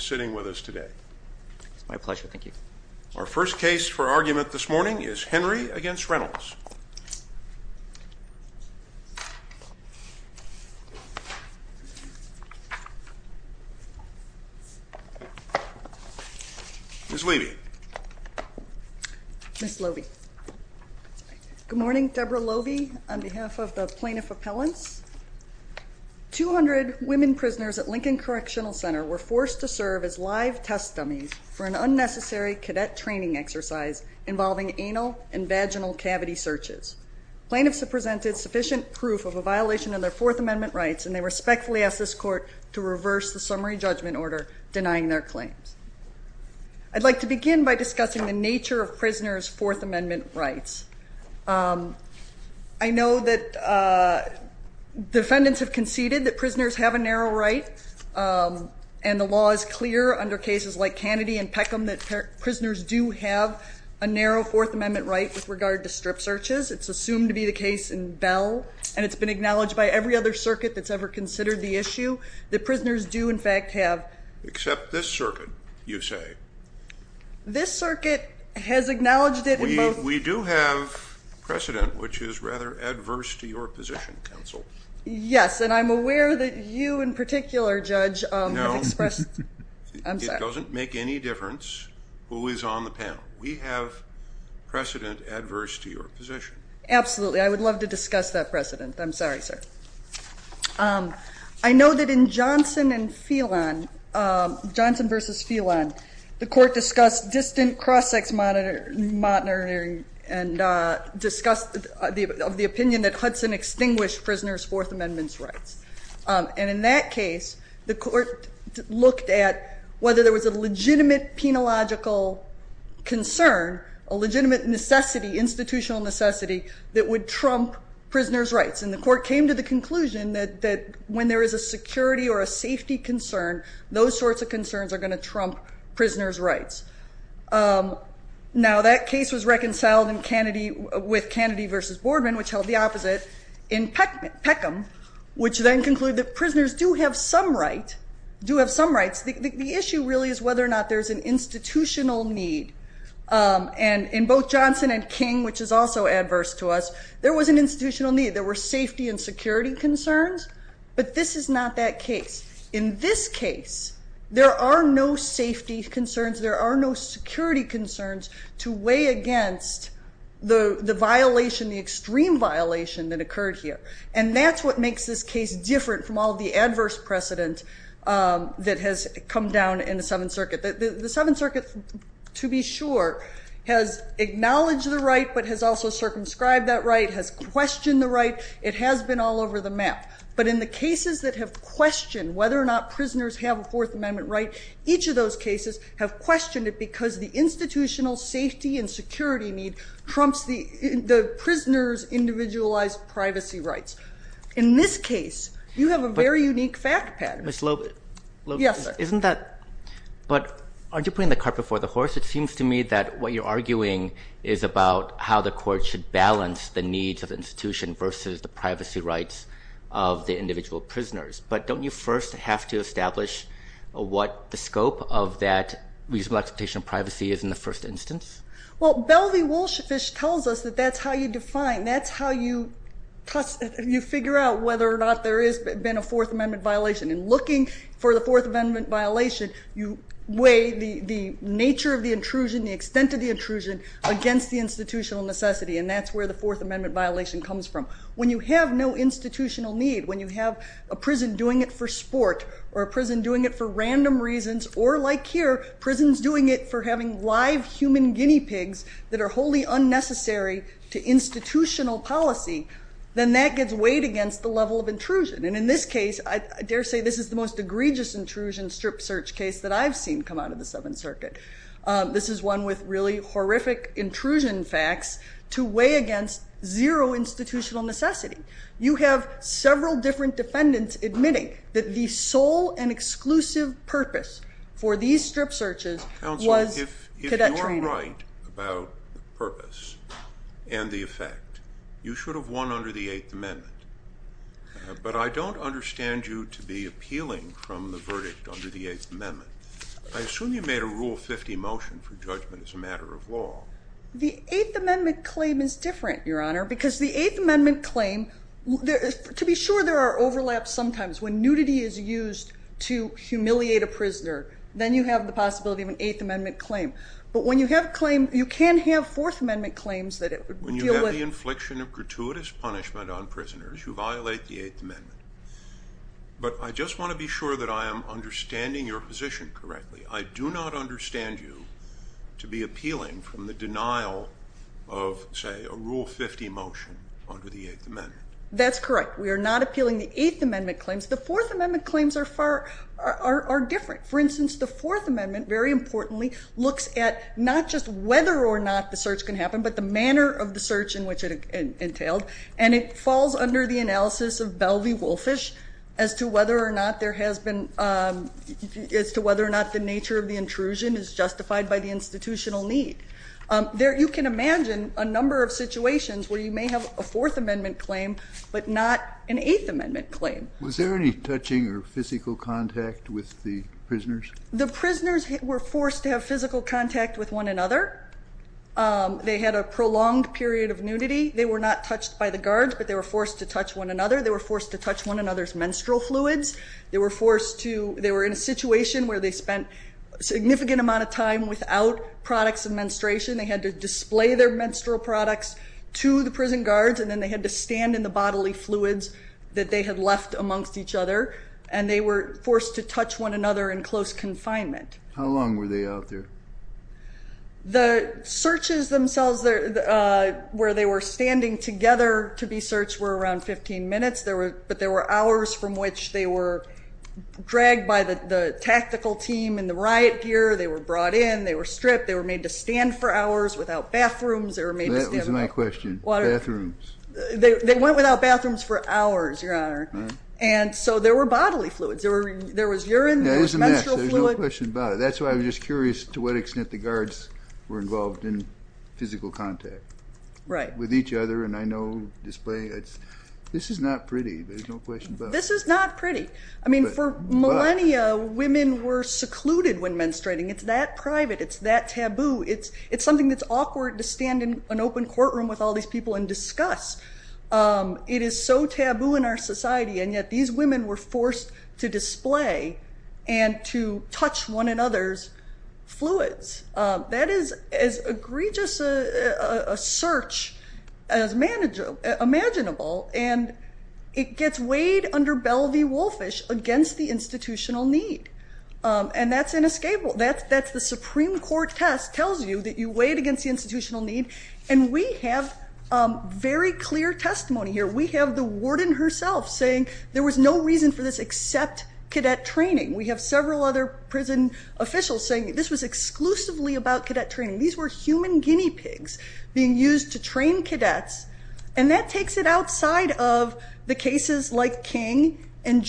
sitting with us today. It's my pleasure, thank you. Our first case for argument this morning is Henry v. Reynolds. Ms. Levy. Ms. Loeby. Good morning, Deborah Loeby. On behalf of the Court of Appeals, I am pleased to serve as live test dummy for an unnecessary cadet training exercise involving anal and vaginal cavity searches. Plaintiffs have presented sufficient proof of a violation of their Fourth Amendment rights and they respectfully ask this Court to reverse the summary judgment order denying their claims. I'd like to begin by discussing the nature of prisoners' Fourth Amendment rights. I know that defendants have cases like Kennedy and Peckham that prisoners do have a narrow Fourth Amendment right with regard to strip searches. It's assumed to be the case in Bell and it's been acknowledged by every other circuit that's ever considered the issue that prisoners do in fact have. Except this circuit, you say. This circuit has acknowledged it in both. We do have precedent which is rather adverse to your position, counsel. Yes, and I'm aware that you in particular, Judge, expressed... No. I'm sorry. It doesn't make any difference who is on the panel. We have precedent adverse to your position. Absolutely. I would love to discuss that precedent. I'm sorry, sir. I know that in Johnson and Phelan, Johnson versus Phelan, the court discussed distant cross-sex monitoring and discussed the opinion that Hudson extinguished prisoners' Fourth The court looked at whether there was a legitimate penological concern, a legitimate necessity, institutional necessity, that would trump prisoners' rights. And the court came to the conclusion that when there is a security or a safety concern, those sorts of concerns are going to trump prisoners' rights. Now that case was reconciled with Kennedy versus Boardman, which held the opposite, in Peckham, which then concluded that prisoners do have some rights. The issue really is whether or not there's an institutional need. And in both Johnson and King, which is also adverse to us, there was an institutional need. There were safety and security concerns, but this is not that case. In this case, there are no safety concerns, there are no security concerns to weigh against the violation, the extreme violation that occurred here. And that's what makes this case different from all of the adverse precedent that has come down in the Seventh Circuit. The Seventh Circuit, to be sure, has acknowledged the right but has also circumscribed that right, has questioned the right. It has been all over the map. But in the cases that have questioned whether or not prisoners have a Fourth Amendment right, each of those cases have questioned it because the institutional safety and security need trumps the prisoners' individualized privacy rights. In this case, you have a very unique fact pattern. Ms. Loeb, isn't that, but aren't you putting the cart before the horse? It seems to me that what you're arguing is about how the court should balance the needs of the institution versus the privacy rights of the individual prisoners. But don't you first have to establish what the reasonable expectation of privacy is in the first instance? Well, Belvey-Wolfefish tells us that that's how you define, that's how you figure out whether or not there has been a Fourth Amendment violation. In looking for the Fourth Amendment violation, you weigh the nature of the intrusion, the extent of the intrusion, against the institutional necessity. And that's where the Fourth Amendment violation comes from. When you have no institutional need, when you have a prison doing it for sport, or a prison doing it for random reasons, or like here, prisons doing it for having live human guinea pigs that are wholly unnecessary to institutional policy, then that gets weighed against the level of intrusion. And in this case, I dare say this is the most egregious intrusion strip search case that I've seen come out of the Seventh Circuit. This is one with really horrific intrusion facts to weigh against zero institutional necessity. You have several different defendants admitting that the sole and exclusive purpose for these strip searches was cadet training. Counsel, if you're right about purpose and the effect, you should have won under the Eighth Amendment. But I don't understand you to be appealing from the verdict under the Eighth Amendment. I assume you made a Rule 50 motion for judgment as a matter of law. The Eighth Amendment claim is different, Your Honor, because the Eighth Amendment claim, to be sure, there are overlaps sometimes. When nudity is used to humiliate a prisoner, then you have the possibility of an Eighth Amendment claim. But when you have a claim, you can have Fourth Amendment claims that deal with... When you have the infliction of gratuitous punishment on prisoners, you violate the Eighth Amendment. But I just want to be sure that I am understanding your position correctly. I do not understand you to be appealing from the verdict of, say, a Rule 50 motion under the Eighth Amendment. That's correct. We are not appealing the Eighth Amendment claims. The Fourth Amendment claims are different. For instance, the Fourth Amendment, very importantly, looks at not just whether or not the search can happen, but the manner of the search in which it entailed. And it falls under the analysis of Belvey-Wolfish as to whether or not the nature of the intrusion is the same. So you can imagine a number of situations where you may have a Fourth Amendment claim, but not an Eighth Amendment claim. Was there any touching or physical contact with the prisoners? The prisoners were forced to have physical contact with one another. They had a prolonged period of nudity. They were not touched by the guards, but they were forced to touch one another. They were forced to touch one another's menstrual fluids. They were forced to... They were in a situation where they spent a significant amount of time without products of menstruation. They had to display their menstrual products to the prison guards, and then they had to stand in the bodily fluids that they had left amongst each other. And they were forced to touch one another in close confinement. How long were they out there? The searches themselves, where they were standing together to be searched, were around 15 minutes. But there were hours from which they were dragged by the tactical team in the riot gear. They were brought in. They were stripped. They were made to stand for hours without bathrooms. That was my question. Bathrooms. They went without bathrooms for hours, Your Honor. And so there were bodily fluids. There was urine. There was menstrual fluid. There's no question about it. That's why I'm just curious to what extent the guards were involved in physical contact with each other. And I know displaying... This is not pretty. There's no question about it. This is not pretty. I mean, for millennia, women were taboo. It's something that's awkward to stand in an open courtroom with all these people and discuss. It is so taboo in our society, and yet these women were forced to display and to touch one another's fluids. That is as egregious a search as imaginable. And it gets weighed under belly woolfish against the institutional need. And that's inescapable. That's the Supreme Court test tells you that you weighed against the institutional need. And we have very clear testimony here. We have the warden herself saying there was no reason for this except cadet training. We have several other prison officials saying this was exclusively about cadet training. These were human guinea pigs being used to train cadets. And that takes it outside of the cases like King and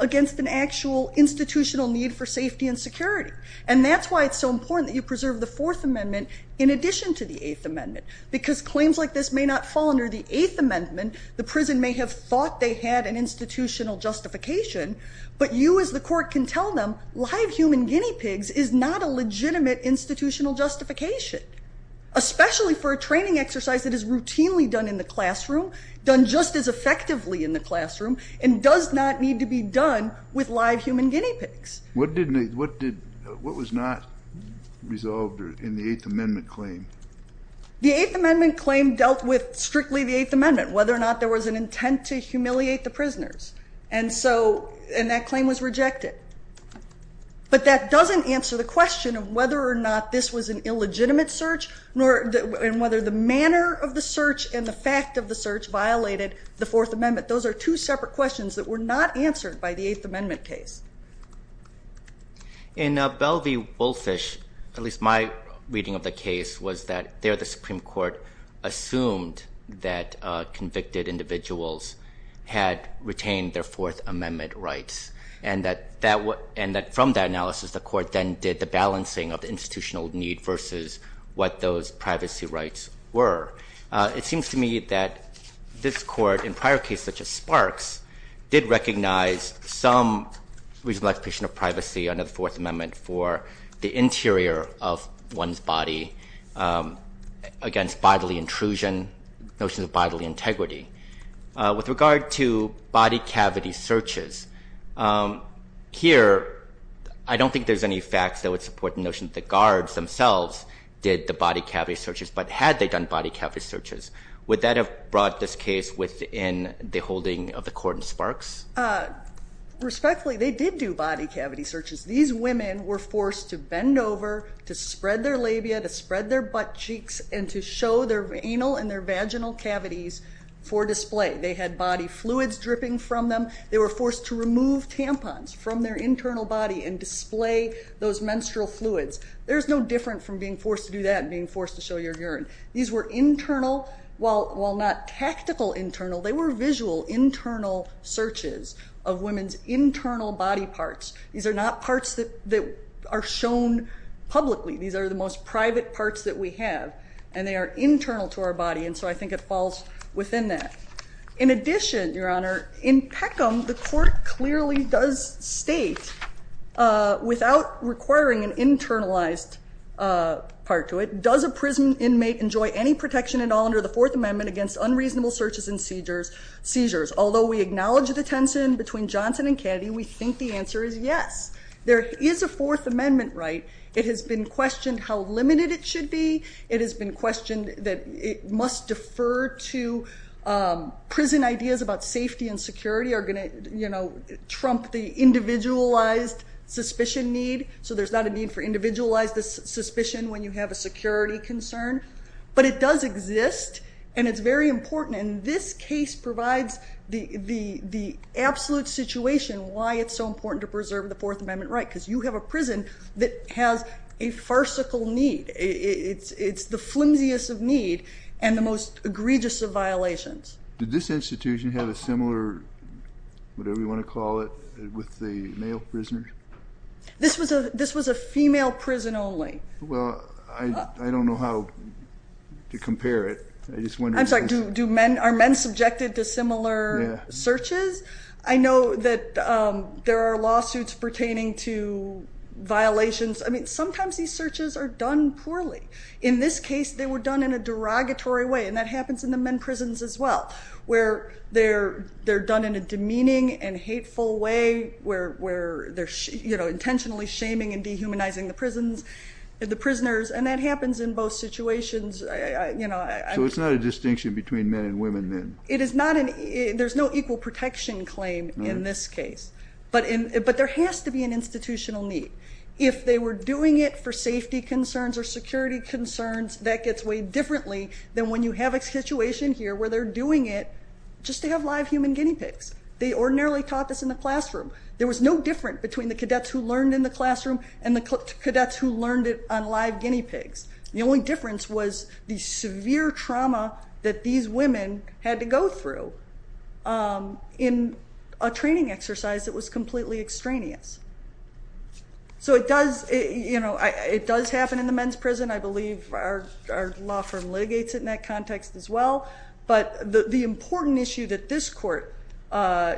against an actual institutional need for safety and security. And that's why it's so important that you preserve the Fourth Amendment in addition to the Eighth Amendment, because claims like this may not fall under the Eighth Amendment. The prison may have thought they had an institutional justification, but you as the court can tell them, live human guinea pigs is not a legitimate institutional justification, especially for a training exercise that is routinely done in the classroom, done just as effectively in the classroom, and does not need to be done with live human guinea pigs. What did, what did, what was not resolved in the Eighth Amendment claim? The Eighth Amendment claim dealt with strictly the Eighth Amendment, whether or not there was an intent to humiliate the prisoners. And so, and that claim was rejected. But that doesn't answer the question of whether or not this was an illegitimate search, nor, and whether the claims were not answered by the Eighth Amendment case. In Belle v. Woolfish, at least my reading of the case, was that there the Supreme Court assumed that convicted individuals had retained their Fourth Amendment rights. And that, and that from that analysis, the court then did the balancing of the institutional need versus what those some reasonable expectation of privacy under the Fourth Amendment for the interior of one's body against bodily intrusion, notions of bodily integrity. With regard to body cavity searches, here, I don't think there's any facts that would support the notion that the guards themselves did the body cavity searches, but had they done body cavity searches, would that have brought this case within the holding of the sparks? Respectfully, they did do body cavity searches. These women were forced to bend over, to spread their labia, to spread their butt cheeks, and to show their anal and their vaginal cavities for display. They had body fluids dripping from them. They were forced to remove tampons from their internal body and display those menstrual fluids. There's no different from being forced to do that and being forced to show your urine. These were internal, while not tactical internal, they were visual internal searches of women's internal body parts. These are not parts that are shown publicly. These are the most private parts that we have, and they are internal to our body, and so I think it falls within that. In addition, Your Honor, is there any protection at all under the Fourth Amendment against unreasonable searches and seizures? Although we acknowledge the tension between Johnson and Kennedy, we think the answer is yes. There is a Fourth Amendment right. It has been questioned how limited it should be. It has been questioned that it must defer to prison ideas about safety and security are going to trump the individualized suspicion need, so there's not a need for individualized suspicion when you have a security concern, but it does exist, and it's very important, and this case provides the absolute situation why it's so important to preserve the Fourth Amendment right, because you have a prison that has a farcical need. It's the flimsiest of need and the most egregious of violations. Did this institution have a similar, whatever you want to call it, with the male prisoner? This was a female prison only. Well, I don't know how to compare it. I'm sorry, are men subjected to similar searches? I know that there are lawsuits pertaining to violations. I mean, sometimes these searches are done poorly. In this case, they were done in a derogatory way, and that happens in the men intentionally shaming and dehumanizing the prisoners, and that happens in both situations. So it's not a distinction between men and women then? There's no equal protection claim in this case, but there has to be an institutional need. If they were doing it for safety concerns or security concerns, that gets weighed differently than when you have a situation here where they're doing it just to have live human guinea pigs. They ordinarily taught this in the classroom. There was no difference between the cadets who learned in the classroom and the cadets who learned it on live guinea pigs. The only difference was the severe trauma that these women had to go through in a training exercise that was completely extraneous. So it does happen in the men's prison. I believe our law firm litigates it in that context as well, but the important issue that this court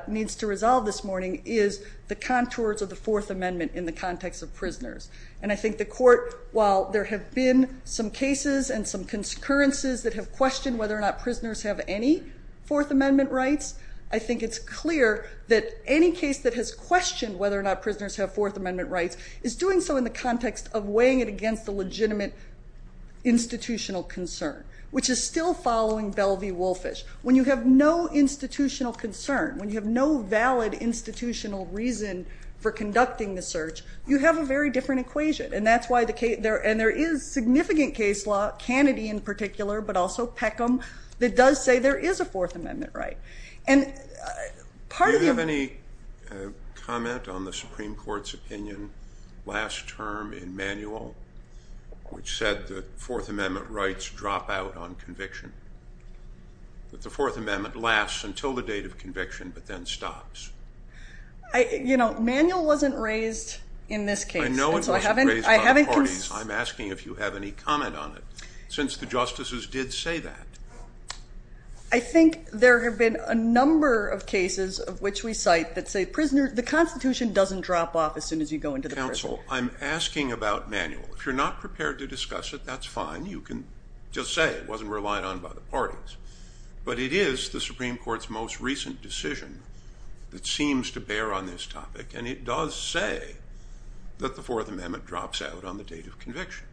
needs to resolve this morning is the contours of the Fourth Amendment in the context of prisoners. And I think the court, while there have been some cases and some concurrences that have questioned whether or not prisoners have any Fourth Amendment rights, I think it's clear that any case that has questioned whether or not prisoners have Fourth Amendment rights is doing so in the context of which is still following Belle v. Woolfish. When you have no institutional concern, when you have no valid institutional reason for conducting the search, you have a very different equation. And there is significant case law, Kennedy in particular, but also Peckham, that does say there is a Fourth Amendment right. Do you have any comment on the Supreme Court's opinion last term in Manuel, which said the Fourth Amendment rights drop out on conviction, that the Fourth Amendment lasts until the date of conviction but then stops? You know, Manuel wasn't raised in this case. I know it wasn't raised by the parties. I'm asking if you have any comment. There have been a number of cases of which we cite that say the Constitution doesn't drop off as soon as you go into the prison. Counsel, I'm asking about Manuel. If you're not prepared to discuss it, that's fine. You can just say it wasn't relied on by the parties. But it is the Supreme Court's most recent decision that seems to bear on this topic. And it does say that the Fourth Amendment drops out on the date of conviction.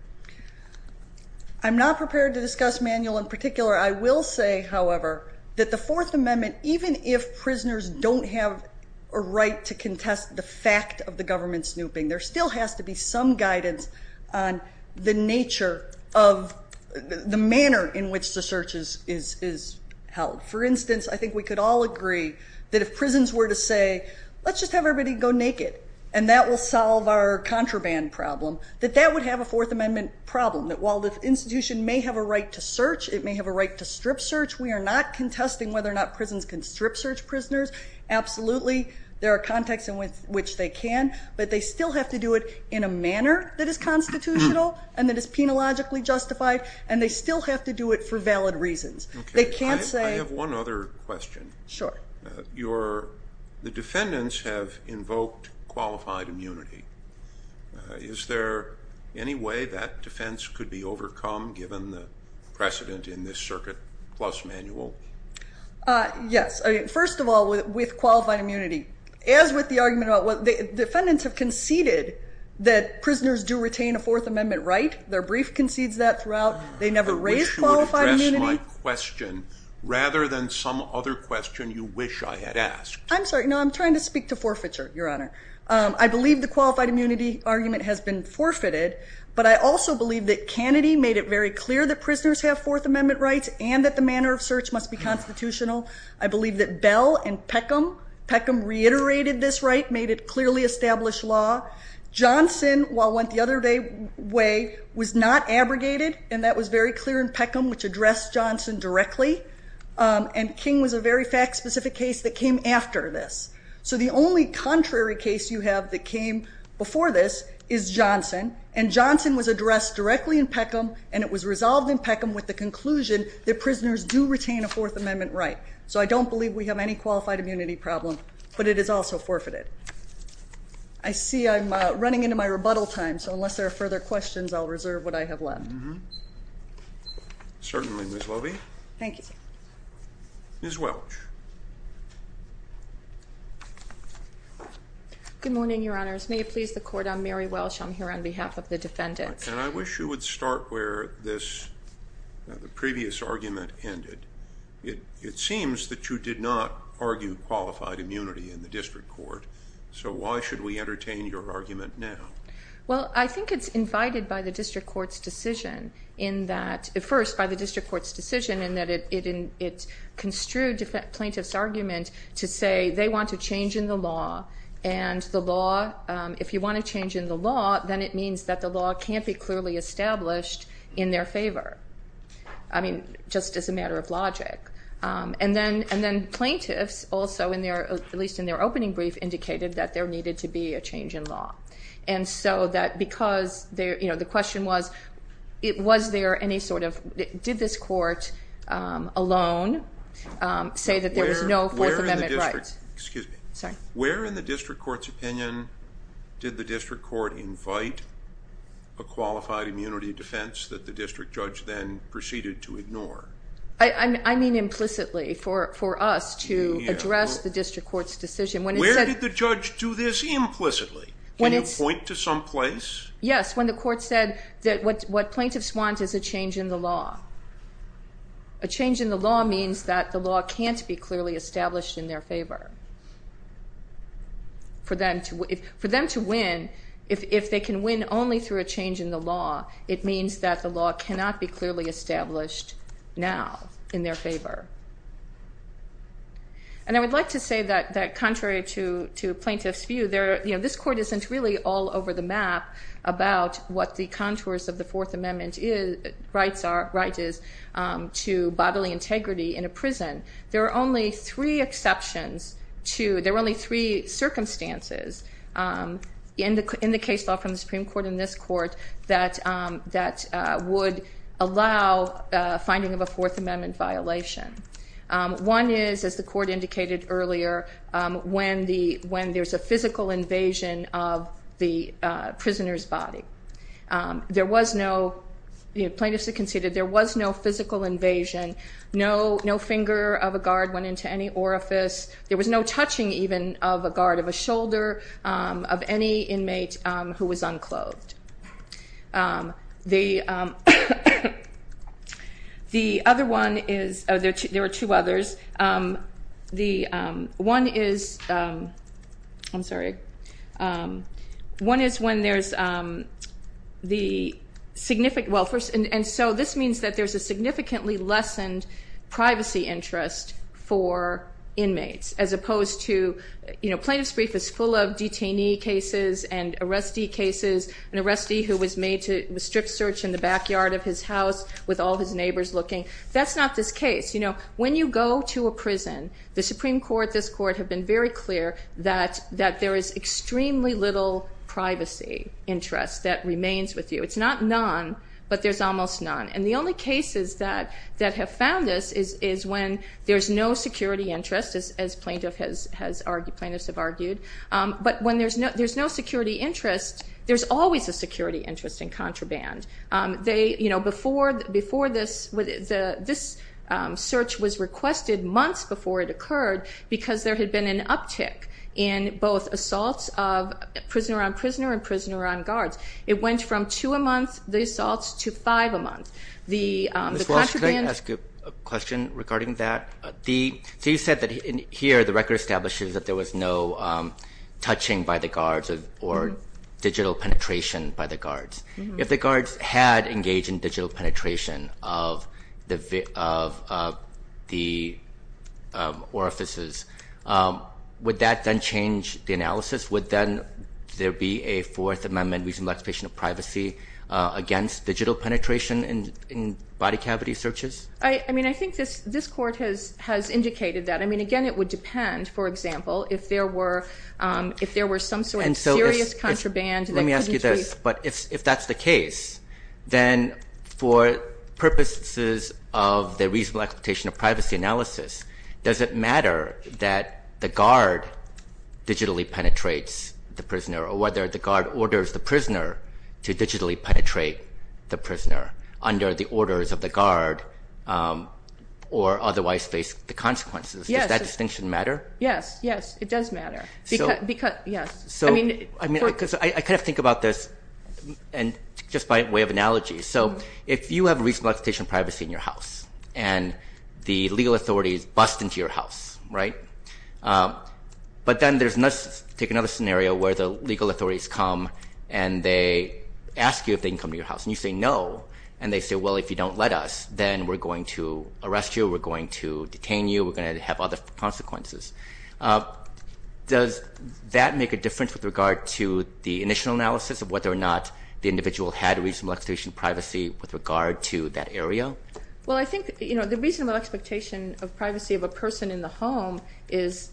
I'm not prepared to discuss Manuel in particular. I will say, however, that the Fourth Amendment, even if prisoners don't have a right to contest the fact of the government snooping, there still has to be some guidance on the nature of the manner in which the search is held. For instance, I think we could all agree that if prisons were to say, let's just have everybody go naked and that will solve our contraband problem, that that would have a right to search. It may have a right to strip search. We are not contesting whether or not prisons can strip search prisoners. Absolutely, there are contexts in which they can. But they still have to do it in a manner that is constitutional and that is precedent in this circuit, plus Manuel. Yes. First of all, with qualified immunity, as with the argument about what the defendants have conceded that prisoners do retain a Fourth Amendment right, their brief concedes that throughout, they never raise qualified immunity. I wish you would address my question rather than some other question you wish I had asked. I'm sorry. No, I'm trying to speak to forfeiture, Your Honor. I believe the qualified immunity argument has been forfeited. But I also believe that Kennedy made it very clear that prisoners have Fourth Amendment rights and that the manner of search must be constitutional. I believe that Bell and Peckham reiterated this right, made it clearly established law. Johnson, while went the other way, was not abrogated and that was very clear in Peckham, which addressed Johnson directly. And King was a very fact-specific case that came after this. So the only contrary case you have that came before this is Johnson. And Johnson was addressed directly in Peckham and it was resolved in Peckham. With the conclusion that prisoners do retain a Fourth Amendment right. So I don't believe we have any qualified immunity problem, but it is also forfeited. I see I'm running into my rebuttal time. So unless there are further questions, I'll reserve what I have left. Certainly, Ms. Lobey. Thank you. Ms. Welch. Good morning, Your Honors. May it please the Court, I'm Mary Welch. I'm here on behalf of the defendants. And I wish you would start where this previous argument ended. It seems that you did not argue qualified immunity in the district court. So why should we entertain your argument now? Well, I think it's invited by the district court's decision in that it construed plaintiff's argument to say they want to change in the law. And if you want to change in the law, then it means that the law can't be clearly established in their favor. I mean, just as a matter of logic. And then plaintiffs also, at least in their opening brief, indicated that there needed to be a change in law. And so that because the question was, was there any sort of, did this court alone say that there was no Fourth Amendment right? Where in the district court's opinion did the district court invite a qualified immunity defense that the district judge then proceeded to ignore? I mean implicitly for us to address the district court's decision. Where did the judge do this implicitly? Can you point to some place? Yes, when the court said that what plaintiffs want is a change in the law. A change in the law means that the law can't be clearly established in their favor. For them to win, if they can win only through a change in the law, it means that the law cannot be clearly established now in their favor. And I would like to say that contrary to plaintiff's view, this court isn't really all over the map about what the contours of the Fourth Amendment rights are, rights is to bodily integrity in a prison. There are only three exceptions to, there were only three circumstances in the case law from the Supreme Court and this court that would allow finding of a Fourth Amendment violation. One is, as the court indicated earlier, when there's a physical invasion of the prisoner's body. There was no, plaintiffs have conceded, there was no physical invasion, no finger of a guard went into any orifice, there was no touching even of a guard, of a shoulder, of any inmate who was unclothed. The other one is, there are two others, the one is, I'm sorry, one is when there's the significant, well first, and so this means that there's a significantly lessened privacy interest for inmates as opposed to, you know, plaintiff's brief is full of detainee cases and arrestee cases, an arrestee who was made to strip search in the backyard of his house with all his neighbors looking, that's not this case. You know, when you go to a prison, the Supreme Court, this court have been very clear that there is extremely little privacy interest that remains with you. It's not none, but there's almost none. And the only cases that have found this is when there's no security interest, as plaintiffs have argued, but when there's no security interest, there's always a security interest in contraband. They, you know, before this, this search was requested months before it occurred because there had been an uptick in both assaults of prisoner on prisoner and prisoner on guards. It went from two a month, the assaults, to five a month. Ms. Walsh, can I ask a question regarding that? So you said that here the record establishes that there was no touching by the guards or digital penetration by the guards. If the guards had engaged in digital penetration of the orifices, would that then change the analysis? Would then there be a Fourth Amendment reasonable expectation of privacy against digital penetration in body cavity searches? I mean, I think this court has indicated that. I mean, again, it would depend, for example, if there were some sort of serious contraband that couldn't be- or whether the guard orders the prisoner to digitally penetrate the prisoner under the orders of the guard or otherwise face the consequences. Does that distinction matter? Yes, yes, it does matter. So I mean, because I kind of think about this and just by way of analogy. So if you have reasonable expectation of privacy in your house and the legal authorities bust into your house, right? But then there's another scenario where the legal authorities come and they ask you if they can come to your house and you say no. And they say, well, if you don't let us, then we're going to arrest you. We're going to detain you. We're going to have other consequences. Does that make a difference with regard to the initial analysis of whether or not the individual had reasonable expectation of privacy with regard to that area? Well, I think the reasonable expectation of privacy of a person in the home is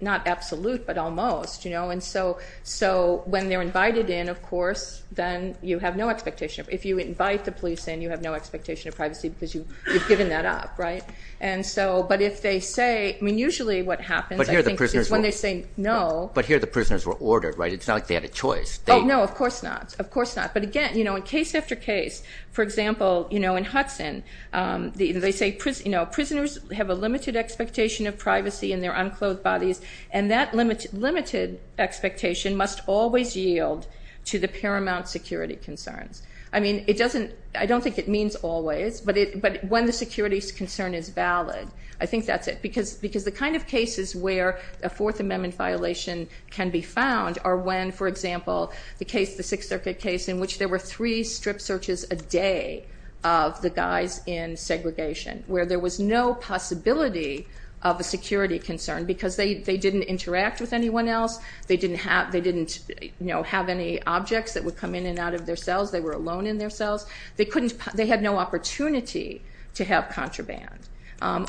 not absolute, but almost. And so when they're invited in, of course, then you have no expectation. If you invite the police in, you have no expectation of privacy because you've given that up, right? And so, but if they say, I mean, usually what happens I think is when they say no. But here the prisoners were ordered, right? It's not like they had a choice. Oh, no, of course not. Of course not. But again, in case after case, for example, in Hudson, they say prisoners have a limited expectation of privacy in their unclothed bodies. And that limited expectation must always yield to the paramount security concerns. I mean, it doesn't, I don't think it means always, but when the security concern is valid, I think that's it. Because the kind of cases where a Fourth Amendment violation can be found are when, for example, the case, the Sixth Circuit case, in which there were three strip searches a day of the guys in segregation, where there was no possibility of a security concern because they didn't interact with anyone else. They didn't have, they didn't, you know, have any objects that would come in and out of their cells. They were alone in their cells. They couldn't, they had no opportunity to have contraband.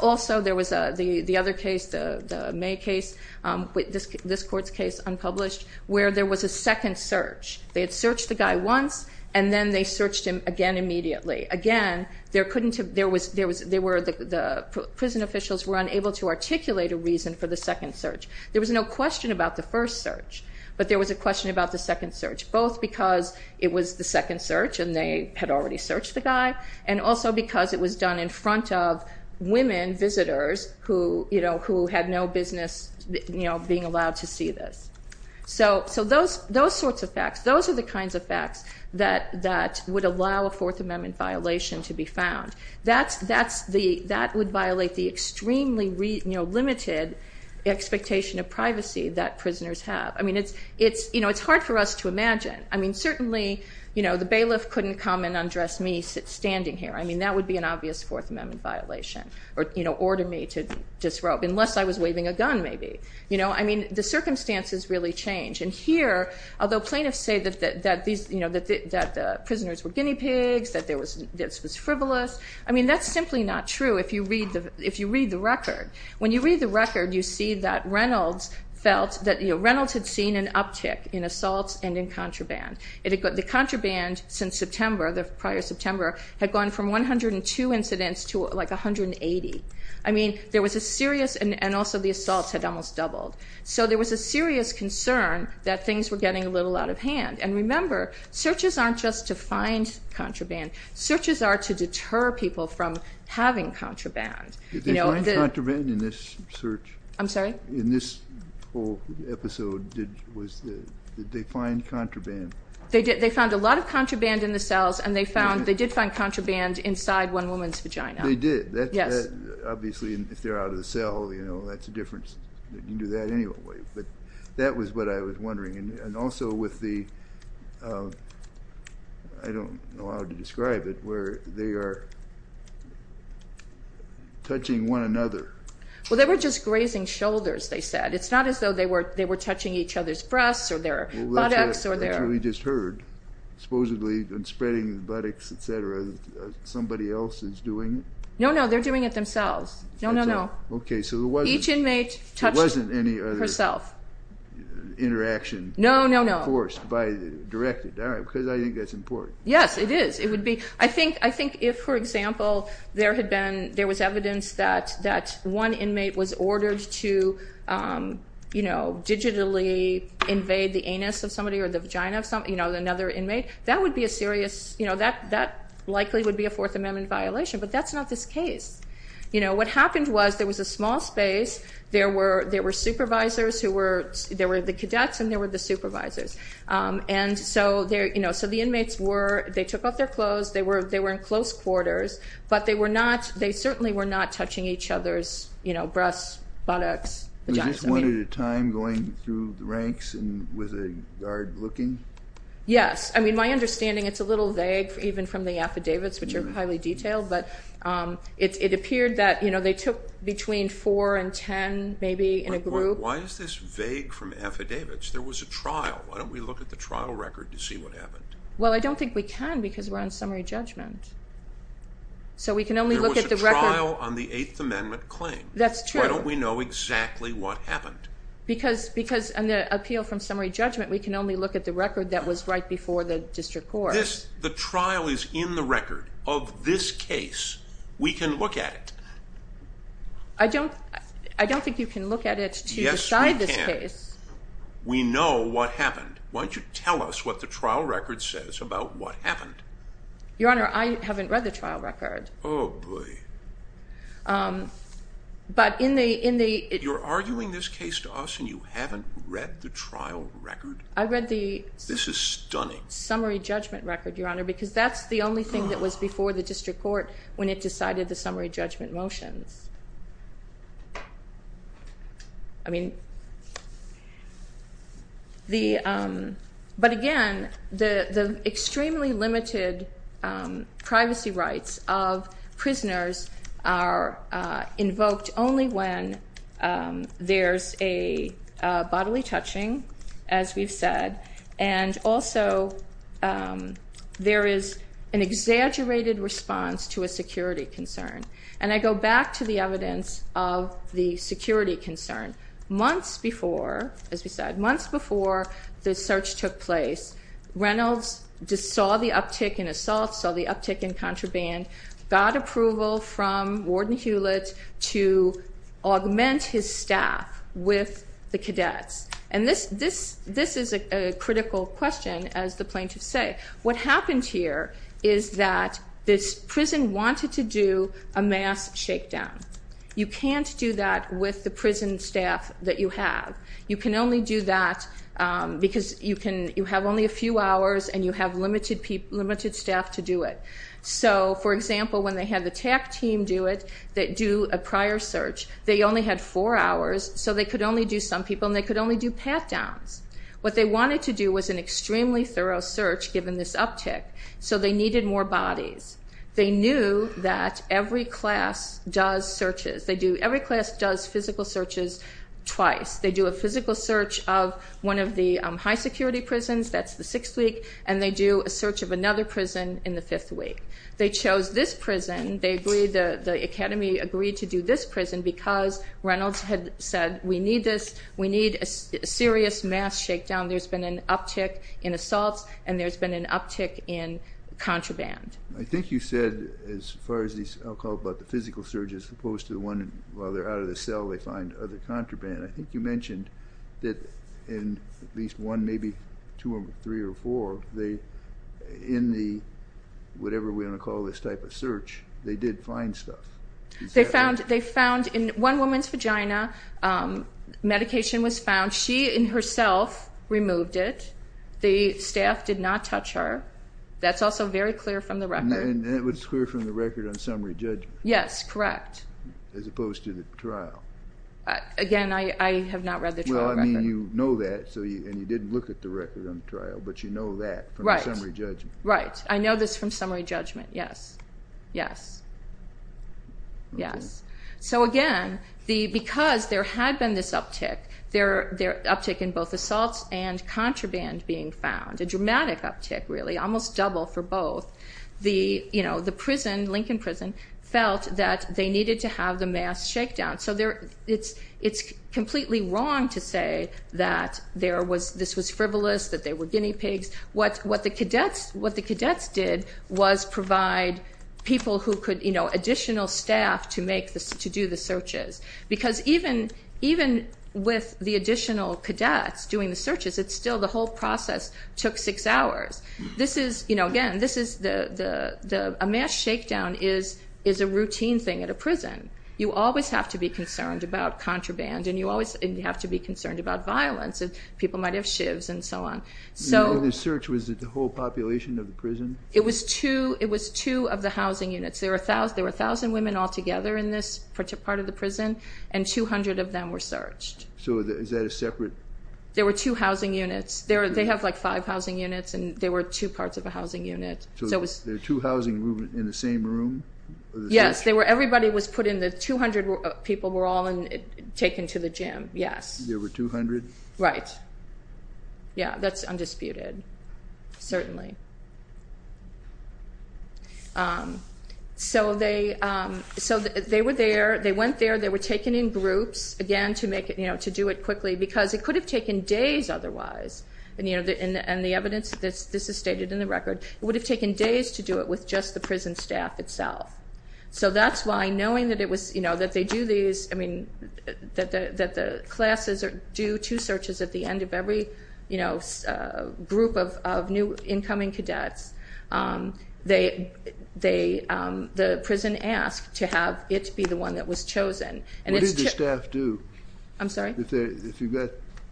Also, there was the other case, the May case, this court's case, unpublished, where there was a second search. They had searched the guy once, and then they searched him again immediately. Again, there couldn't have, there was, there were, the prison officials were unable to articulate a reason for the second search. There was no question about the first search, but there was a question about the second search, both because it was the second search and they had already searched the guy, and also because it was done in front of women visitors who, you know, who had no business, you know, being allowed to see this. So, so those, those sorts of facts, those are the kinds of facts that, that would allow a Fourth Amendment violation to be found. That's, that's the, that would violate the extremely, you know, limited expectation of privacy that prisoners have. I mean, it's, it's, you know, it's hard for us to imagine. I mean, certainly, you know, the bailiff couldn't come and undress me standing here. I mean, that would be an obvious Fourth Amendment violation, or, you know, order me to disrobe, unless I was waving a gun, maybe. You know, I mean, the circumstances really change. And here, although plaintiffs say that these, you know, that the prisoners were guinea pigs, that there was, this was frivolous, I mean, that's simply not true if you read the, if you read the record. When you read the record, you see that Reynolds felt that, you know, Reynolds had seen an uptick in assaults and in contraband. The contraband since September, the prior September, had gone from 102 incidents to like 180. I mean, there was a serious, and also the assaults had almost doubled. So there was a serious concern that things were getting a little out of hand. And remember, searches aren't just to find contraband. Searches are to deter people from having contraband. Did they find contraband in this search? I'm sorry? In this whole episode, did, was, did they find contraband? They did. They found a lot of contraband in the cells, and they found, they did find contraband inside one woman's vagina. They did? Yes. Obviously, if they're out of the cell, you know, that's a difference. You can do that anyway. But that was what I was wondering. And also with the, I don't know how to describe it, where they are touching one another. Well, they were just grazing shoulders, they said. It's not as though they were touching each other's breasts or their buttocks or their- Well, that's what we just heard. Supposedly, in spreading the buttocks, et cetera, somebody else is doing it? No, no. They're doing it themselves. No, no, no. Okay, so there wasn't- Each inmate touched herself. There wasn't any other interaction- No, no, no. Of course, by, directed. All right, because I think that's important. Yes, it is. It would be, I think if, for example, there had been, there was evidence that one inmate was ordered to, you know, digitally invade the anus of somebody or the vagina of somebody, you know, another inmate, that would be a serious, you know, that likely would be a Fourth Amendment violation. But that's not this case. You know, what happened was there was a small space, there were supervisors who were, there were the cadets and there were the supervisors. And so, you know, so the inmates were, they took off their clothes, they were in close quarters, but they were not, they certainly were not touching each other's, you know, breasts, buttocks, vaginas. Was this one at a time going through the ranks and with a guard looking? Yes. I mean, my understanding, it's a little vague even from the affidavits, which are highly detailed, but it appeared that, you know, they took between four and ten maybe in a group. Why is this vague from affidavits? There was a trial. Why don't we look at the trial record to see what happened? Well, I don't think we can because we're on summary judgment. So we can only look at the record. There was a trial on the Eighth Amendment claim. That's true. Why don't we know exactly what happened? Because on the appeal from summary judgment, we can only look at the record that was right before the district court. The trial is in the record of this case. We can look at it. I don't think you can look at it to decide this case. Yes, we can. We know what happened. Why don't you tell us what the trial record says about what happened? Your Honor, I haven't read the trial record. Oh, boy. But in the... You're arguing this case to us and you haven't read the trial record? I read the... This is stunning. ...summary judgment record, Your Honor, because that's the only thing that was before the district court when it decided the summary judgment motions. I mean, the... But again, the extremely limited privacy rights of prisoners are invoked only when there's a bodily touching, as we've said, and also there is an exaggerated response to a security concern. And I go back to the evidence of the security concern. Months before, as we said, months before the search took place, Reynolds just saw the uptick in assaults, saw the uptick in contraband, got approval from Warden Hewlett to augment his staff with the cadets. And this is a critical question, as the plaintiffs say. What happened here is that this prison wanted to do a mass shakedown. You can't do that with the prison staff that you have. You can only do that because you have only a few hours and you have limited staff to do it. So, for example, when they had the TAC team do it, do a prior search, they only had four hours, so they could only do some people and they could only do pat-downs. What they wanted to do was an extremely thorough search given this uptick, so they needed more bodies. They knew that every class does searches. Every class does physical searches twice. They do a physical search of one of the high security prisons, that's the sixth week, and they do a search of another prison in the fifth week. They chose this prison, they agreed, the Academy agreed to do this prison because Reynolds had said, we need this, we need a serious mass shakedown. There's been an uptick in assaults and there's been an uptick in contraband. I think you said, as far as these, I'll call it the physical search as opposed to the one where they're out of the cell, they find other contraband. I think you mentioned that in at least one, maybe two or three or four, in the, whatever we want to call this type of search, they did find stuff. They found, in one woman's vagina, medication was found. She, in herself, removed it. The staff did not touch her. That's also very clear from the record. And it was clear from the record on summary judgment. Yes, correct. As opposed to the trial. Again, I have not read the trial record. Well, I mean, you know that, and you didn't look at the record on the trial, but you know that from the summary judgment. Right, I know this from summary judgment, yes, yes, yes. So again, because there had been this uptick, the uptick in both assaults and contraband being found, a dramatic uptick, really, almost double for both, the prison, Lincoln Prison, felt that they needed to have the mass shakedown. So it's completely wrong to say that this was frivolous, that they were guinea pigs. What the cadets did was provide people who could, you know, additional staff to do the searches. Because even with the additional cadets doing the searches, it's still the whole process took six hours. This is, you know, again, a mass shakedown is a routine thing at a prison. You always have to be concerned about contraband, and you always have to be concerned about violence. People might have shivs and so on. The search was the whole population of the prison? It was two of the housing units. There were 1,000 women altogether in this part of the prison, and 200 of them were searched. So is that a separate? There were two housing units. They have like five housing units, and there were two parts of a housing unit. So there were two housing units in the same room? Yes, everybody was put in. The 200 people were all taken to the gym, yes. There were 200? Right. Yeah, that's undisputed, certainly. So they were there. They went there. They were taken in groups, again, to do it quickly, because it could have taken days otherwise. And the evidence, this is stated in the record, it would have taken days to do it with just the prison staff itself. So that's why, knowing that they do these, that the classes do two searches at the end of every group of new incoming cadets, the prison asked to have it be the one that was chosen. What did the staff do? I'm sorry? If you've got,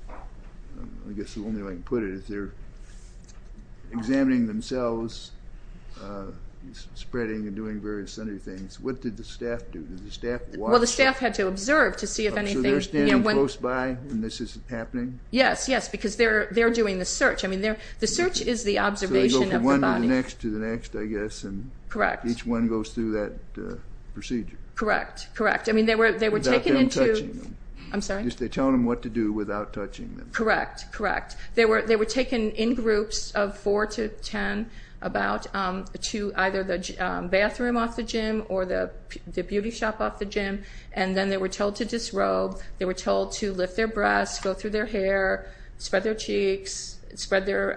I guess the only way I can put it is they're examining themselves, spreading and doing various other things. What did the staff do? Did the staff watch? Well, the staff had to observe to see if anything. So they're standing close by and this is happening? Yes, yes, because they're doing the search. I mean, the search is the observation of the body. So they go from one to the next to the next, I guess. Correct. And each one goes through that procedure. Correct, correct. I mean, they were taken into. Without them touching them. I'm sorry? They're telling them what to do without touching them. Correct, correct. They were taken in groups of four to ten about to either the bathroom off the gym or the beauty shop off the gym. And then they were told to disrobe. They were told to lift their breasts, go through their hair, spread their cheeks, spread their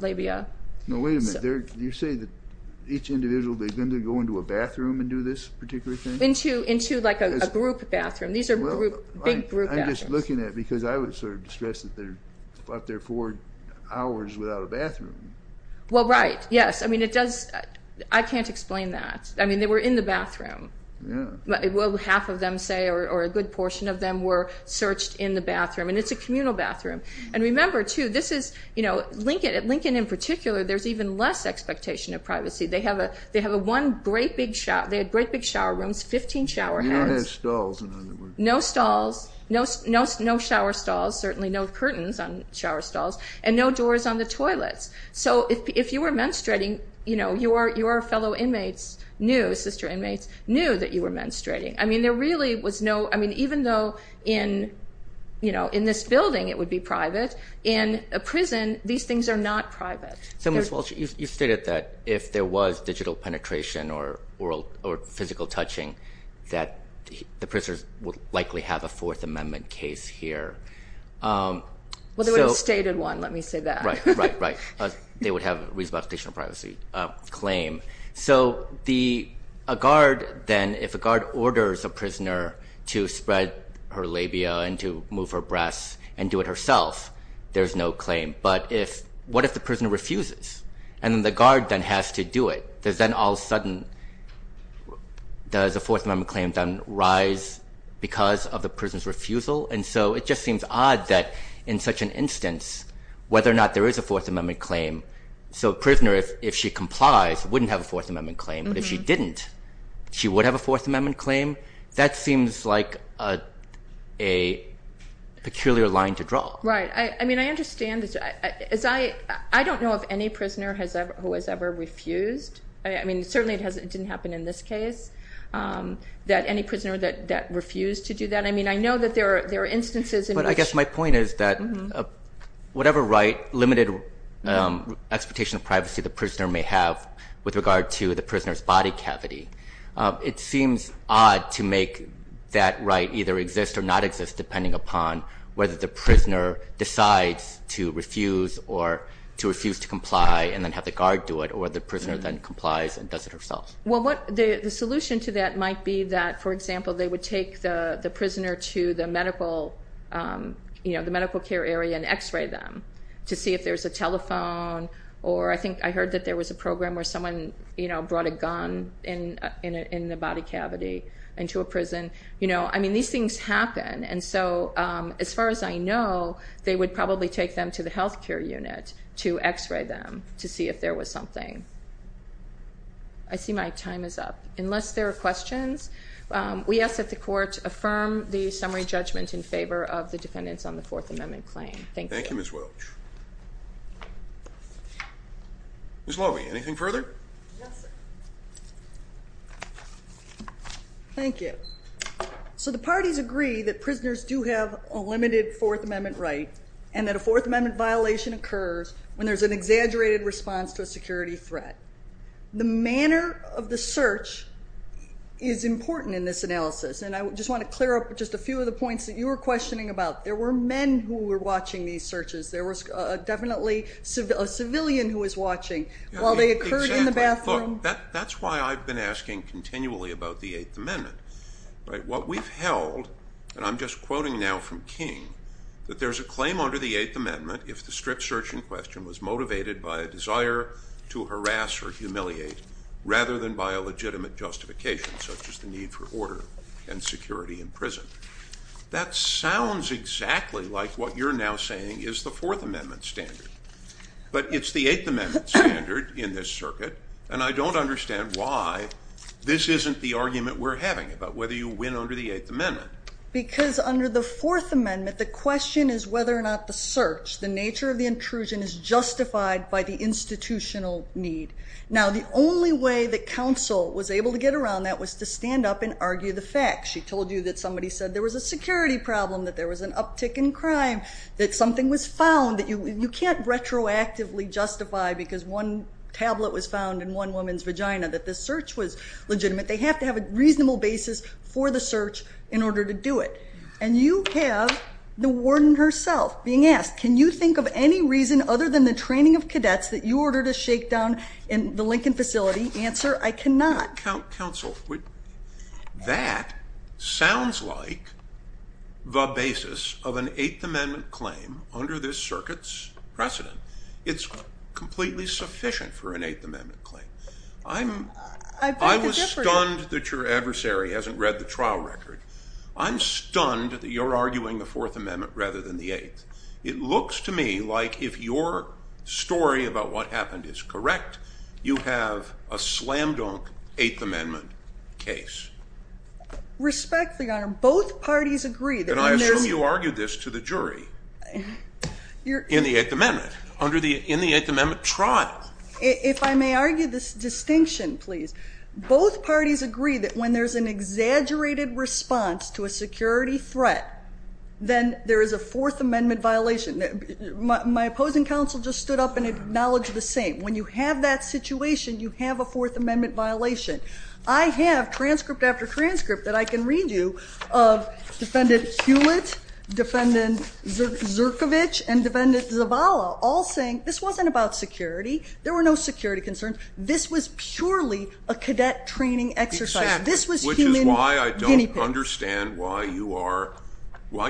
labia. Now, wait a minute. You're saying that each individual, they're going to go into a bathroom and do this particular thing? Into like a group bathroom. These are big group bathrooms. I'm just looking at it because I would sort of stress that they're up there four hours without a bathroom. Well, right. Yes. I mean, it does. I can't explain that. I mean, they were in the bathroom. Yeah. Well, half of them say or a good portion of them were searched in the bathroom. And it's a communal bathroom. And remember, too, this is, you know, Lincoln in particular, there's even less expectation of privacy. They have a one great big shower. They had great big shower rooms, 15 shower heads. No stalls, no shower stalls, certainly no curtains on shower stalls, and no doors on the toilets. So if you were menstruating, you know, your fellow inmates knew, sister inmates knew that you were menstruating. I mean, there really was no, I mean, even though in, you know, in this building it would be private, in a prison these things are not private. So, Ms. Walsh, you stated that if there was digital penetration or physical touching, that the prisoners would likely have a Fourth Amendment case here. Well, they would have stated one. Let me say that. Right, right, right. They would have a reasonable expectation of privacy claim. So a guard then, if a guard orders a prisoner to spread her labia and to move her breasts and do it herself, there's no claim. But if, what if the prisoner refuses? And then the guard then has to do it. Does then all of a sudden, does a Fourth Amendment claim then rise because of the prisoner's refusal? And so it just seems odd that in such an instance, whether or not there is a Fourth Amendment claim, so a prisoner, if she complies, wouldn't have a Fourth Amendment claim. But if she didn't, she would have a Fourth Amendment claim. That seems like a peculiar line to draw. Right. I mean, I understand. I don't know of any prisoner who has ever refused. I mean, certainly it didn't happen in this case that any prisoner that refused to do that. I mean, I know that there are instances in which. But I guess my point is that whatever right, limited expectation of privacy, the prisoner may have with regard to the prisoner's body cavity, it seems odd to make that right either exist or not exist, depending upon whether the prisoner decides to refuse or to refuse to comply and then have the guard do it or the prisoner then complies and does it herself. Well, the solution to that might be that, for example, they would take the prisoner to the medical care area and X-ray them to see if there's a telephone. Or I think I heard that there was a program where someone brought a gun in the body cavity into a prison. I mean, these things happen. And so as far as I know, they would probably take them to the health care unit to X-ray them to see if there was something. I see my time is up. Unless there are questions, we ask that the court affirm the summary judgment in favor of the defendants on the Fourth Amendment claim. Thank you. Thank you, Ms. Welch. Ms. Loewy, anything further? Yes, sir. Thank you. So the parties agree that prisoners do have a limited Fourth Amendment right and that a Fourth Amendment violation occurs when there's an exaggerated response to a security threat. The manner of the search is important in this analysis, and I just want to clear up just a few of the points that you were questioning about. There were men who were watching these searches. There was definitely a civilian who was watching while they occurred in the bathroom. Exactly. Look, that's why I've been asking continually about the Eighth Amendment. What we've held, and I'm just quoting now from King, that there's a claim under the Eighth Amendment if the strip search in question was motivated by a desire to harass or humiliate rather than by a legitimate justification such as the need for order and security in prison. That sounds exactly like what you're now saying is the Fourth Amendment standard. But it's the Eighth Amendment standard in this circuit, and I don't understand why this isn't the argument we're having about whether you win under the Eighth Amendment. Because under the Fourth Amendment, the question is whether or not the search, the nature of the intrusion, is justified by the institutional need. Now, the only way that counsel was able to get around that was to stand up and argue the facts. She told you that somebody said there was a security problem, that there was an uptick in crime, that something was found, that you can't retroactively justify because one tablet was found in one woman's vagina, that the search was legitimate. They have to have a reasonable basis for the search in order to do it. And you have the warden herself being asked, can you think of any reason other than the training of cadets that you ordered a shakedown in the Lincoln facility? Answer, I cannot. That sounds like the basis of an Eighth Amendment claim under this circuit's precedent. It's completely sufficient for an Eighth Amendment claim. I was stunned that your adversary hasn't read the trial record. I'm stunned that you're arguing the Fourth Amendment rather than the Eighth. It looks to me like if your story about what happened is correct, you have a slam-dunk Eighth Amendment case. Respectfully, Your Honor, both parties agree that when there's... And I assume you argued this to the jury in the Eighth Amendment, in the Eighth Amendment trial. If I may argue this distinction, please. Both parties agree that when there's an exaggerated response to a security threat, then there is a Fourth Amendment violation. My opposing counsel just stood up and acknowledged the same. When you have that situation, you have a Fourth Amendment violation. I have transcript after transcript that I can read you of Defendant Hewitt, Defendant Zerkovich, and Defendant Zavala all saying this wasn't about security. There were no security concerns. This was purely a cadet training exercise. Exactly. This was human guinea pigs. Which is why I don't understand why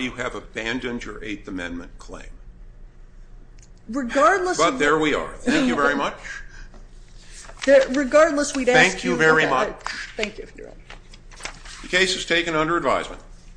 you have abandoned your Eighth Amendment claim. Regardless of... There we are. Thank you very much. Regardless, we've asked you... Thank you very much. Thank you, Your Honor. The case is taken under advisement.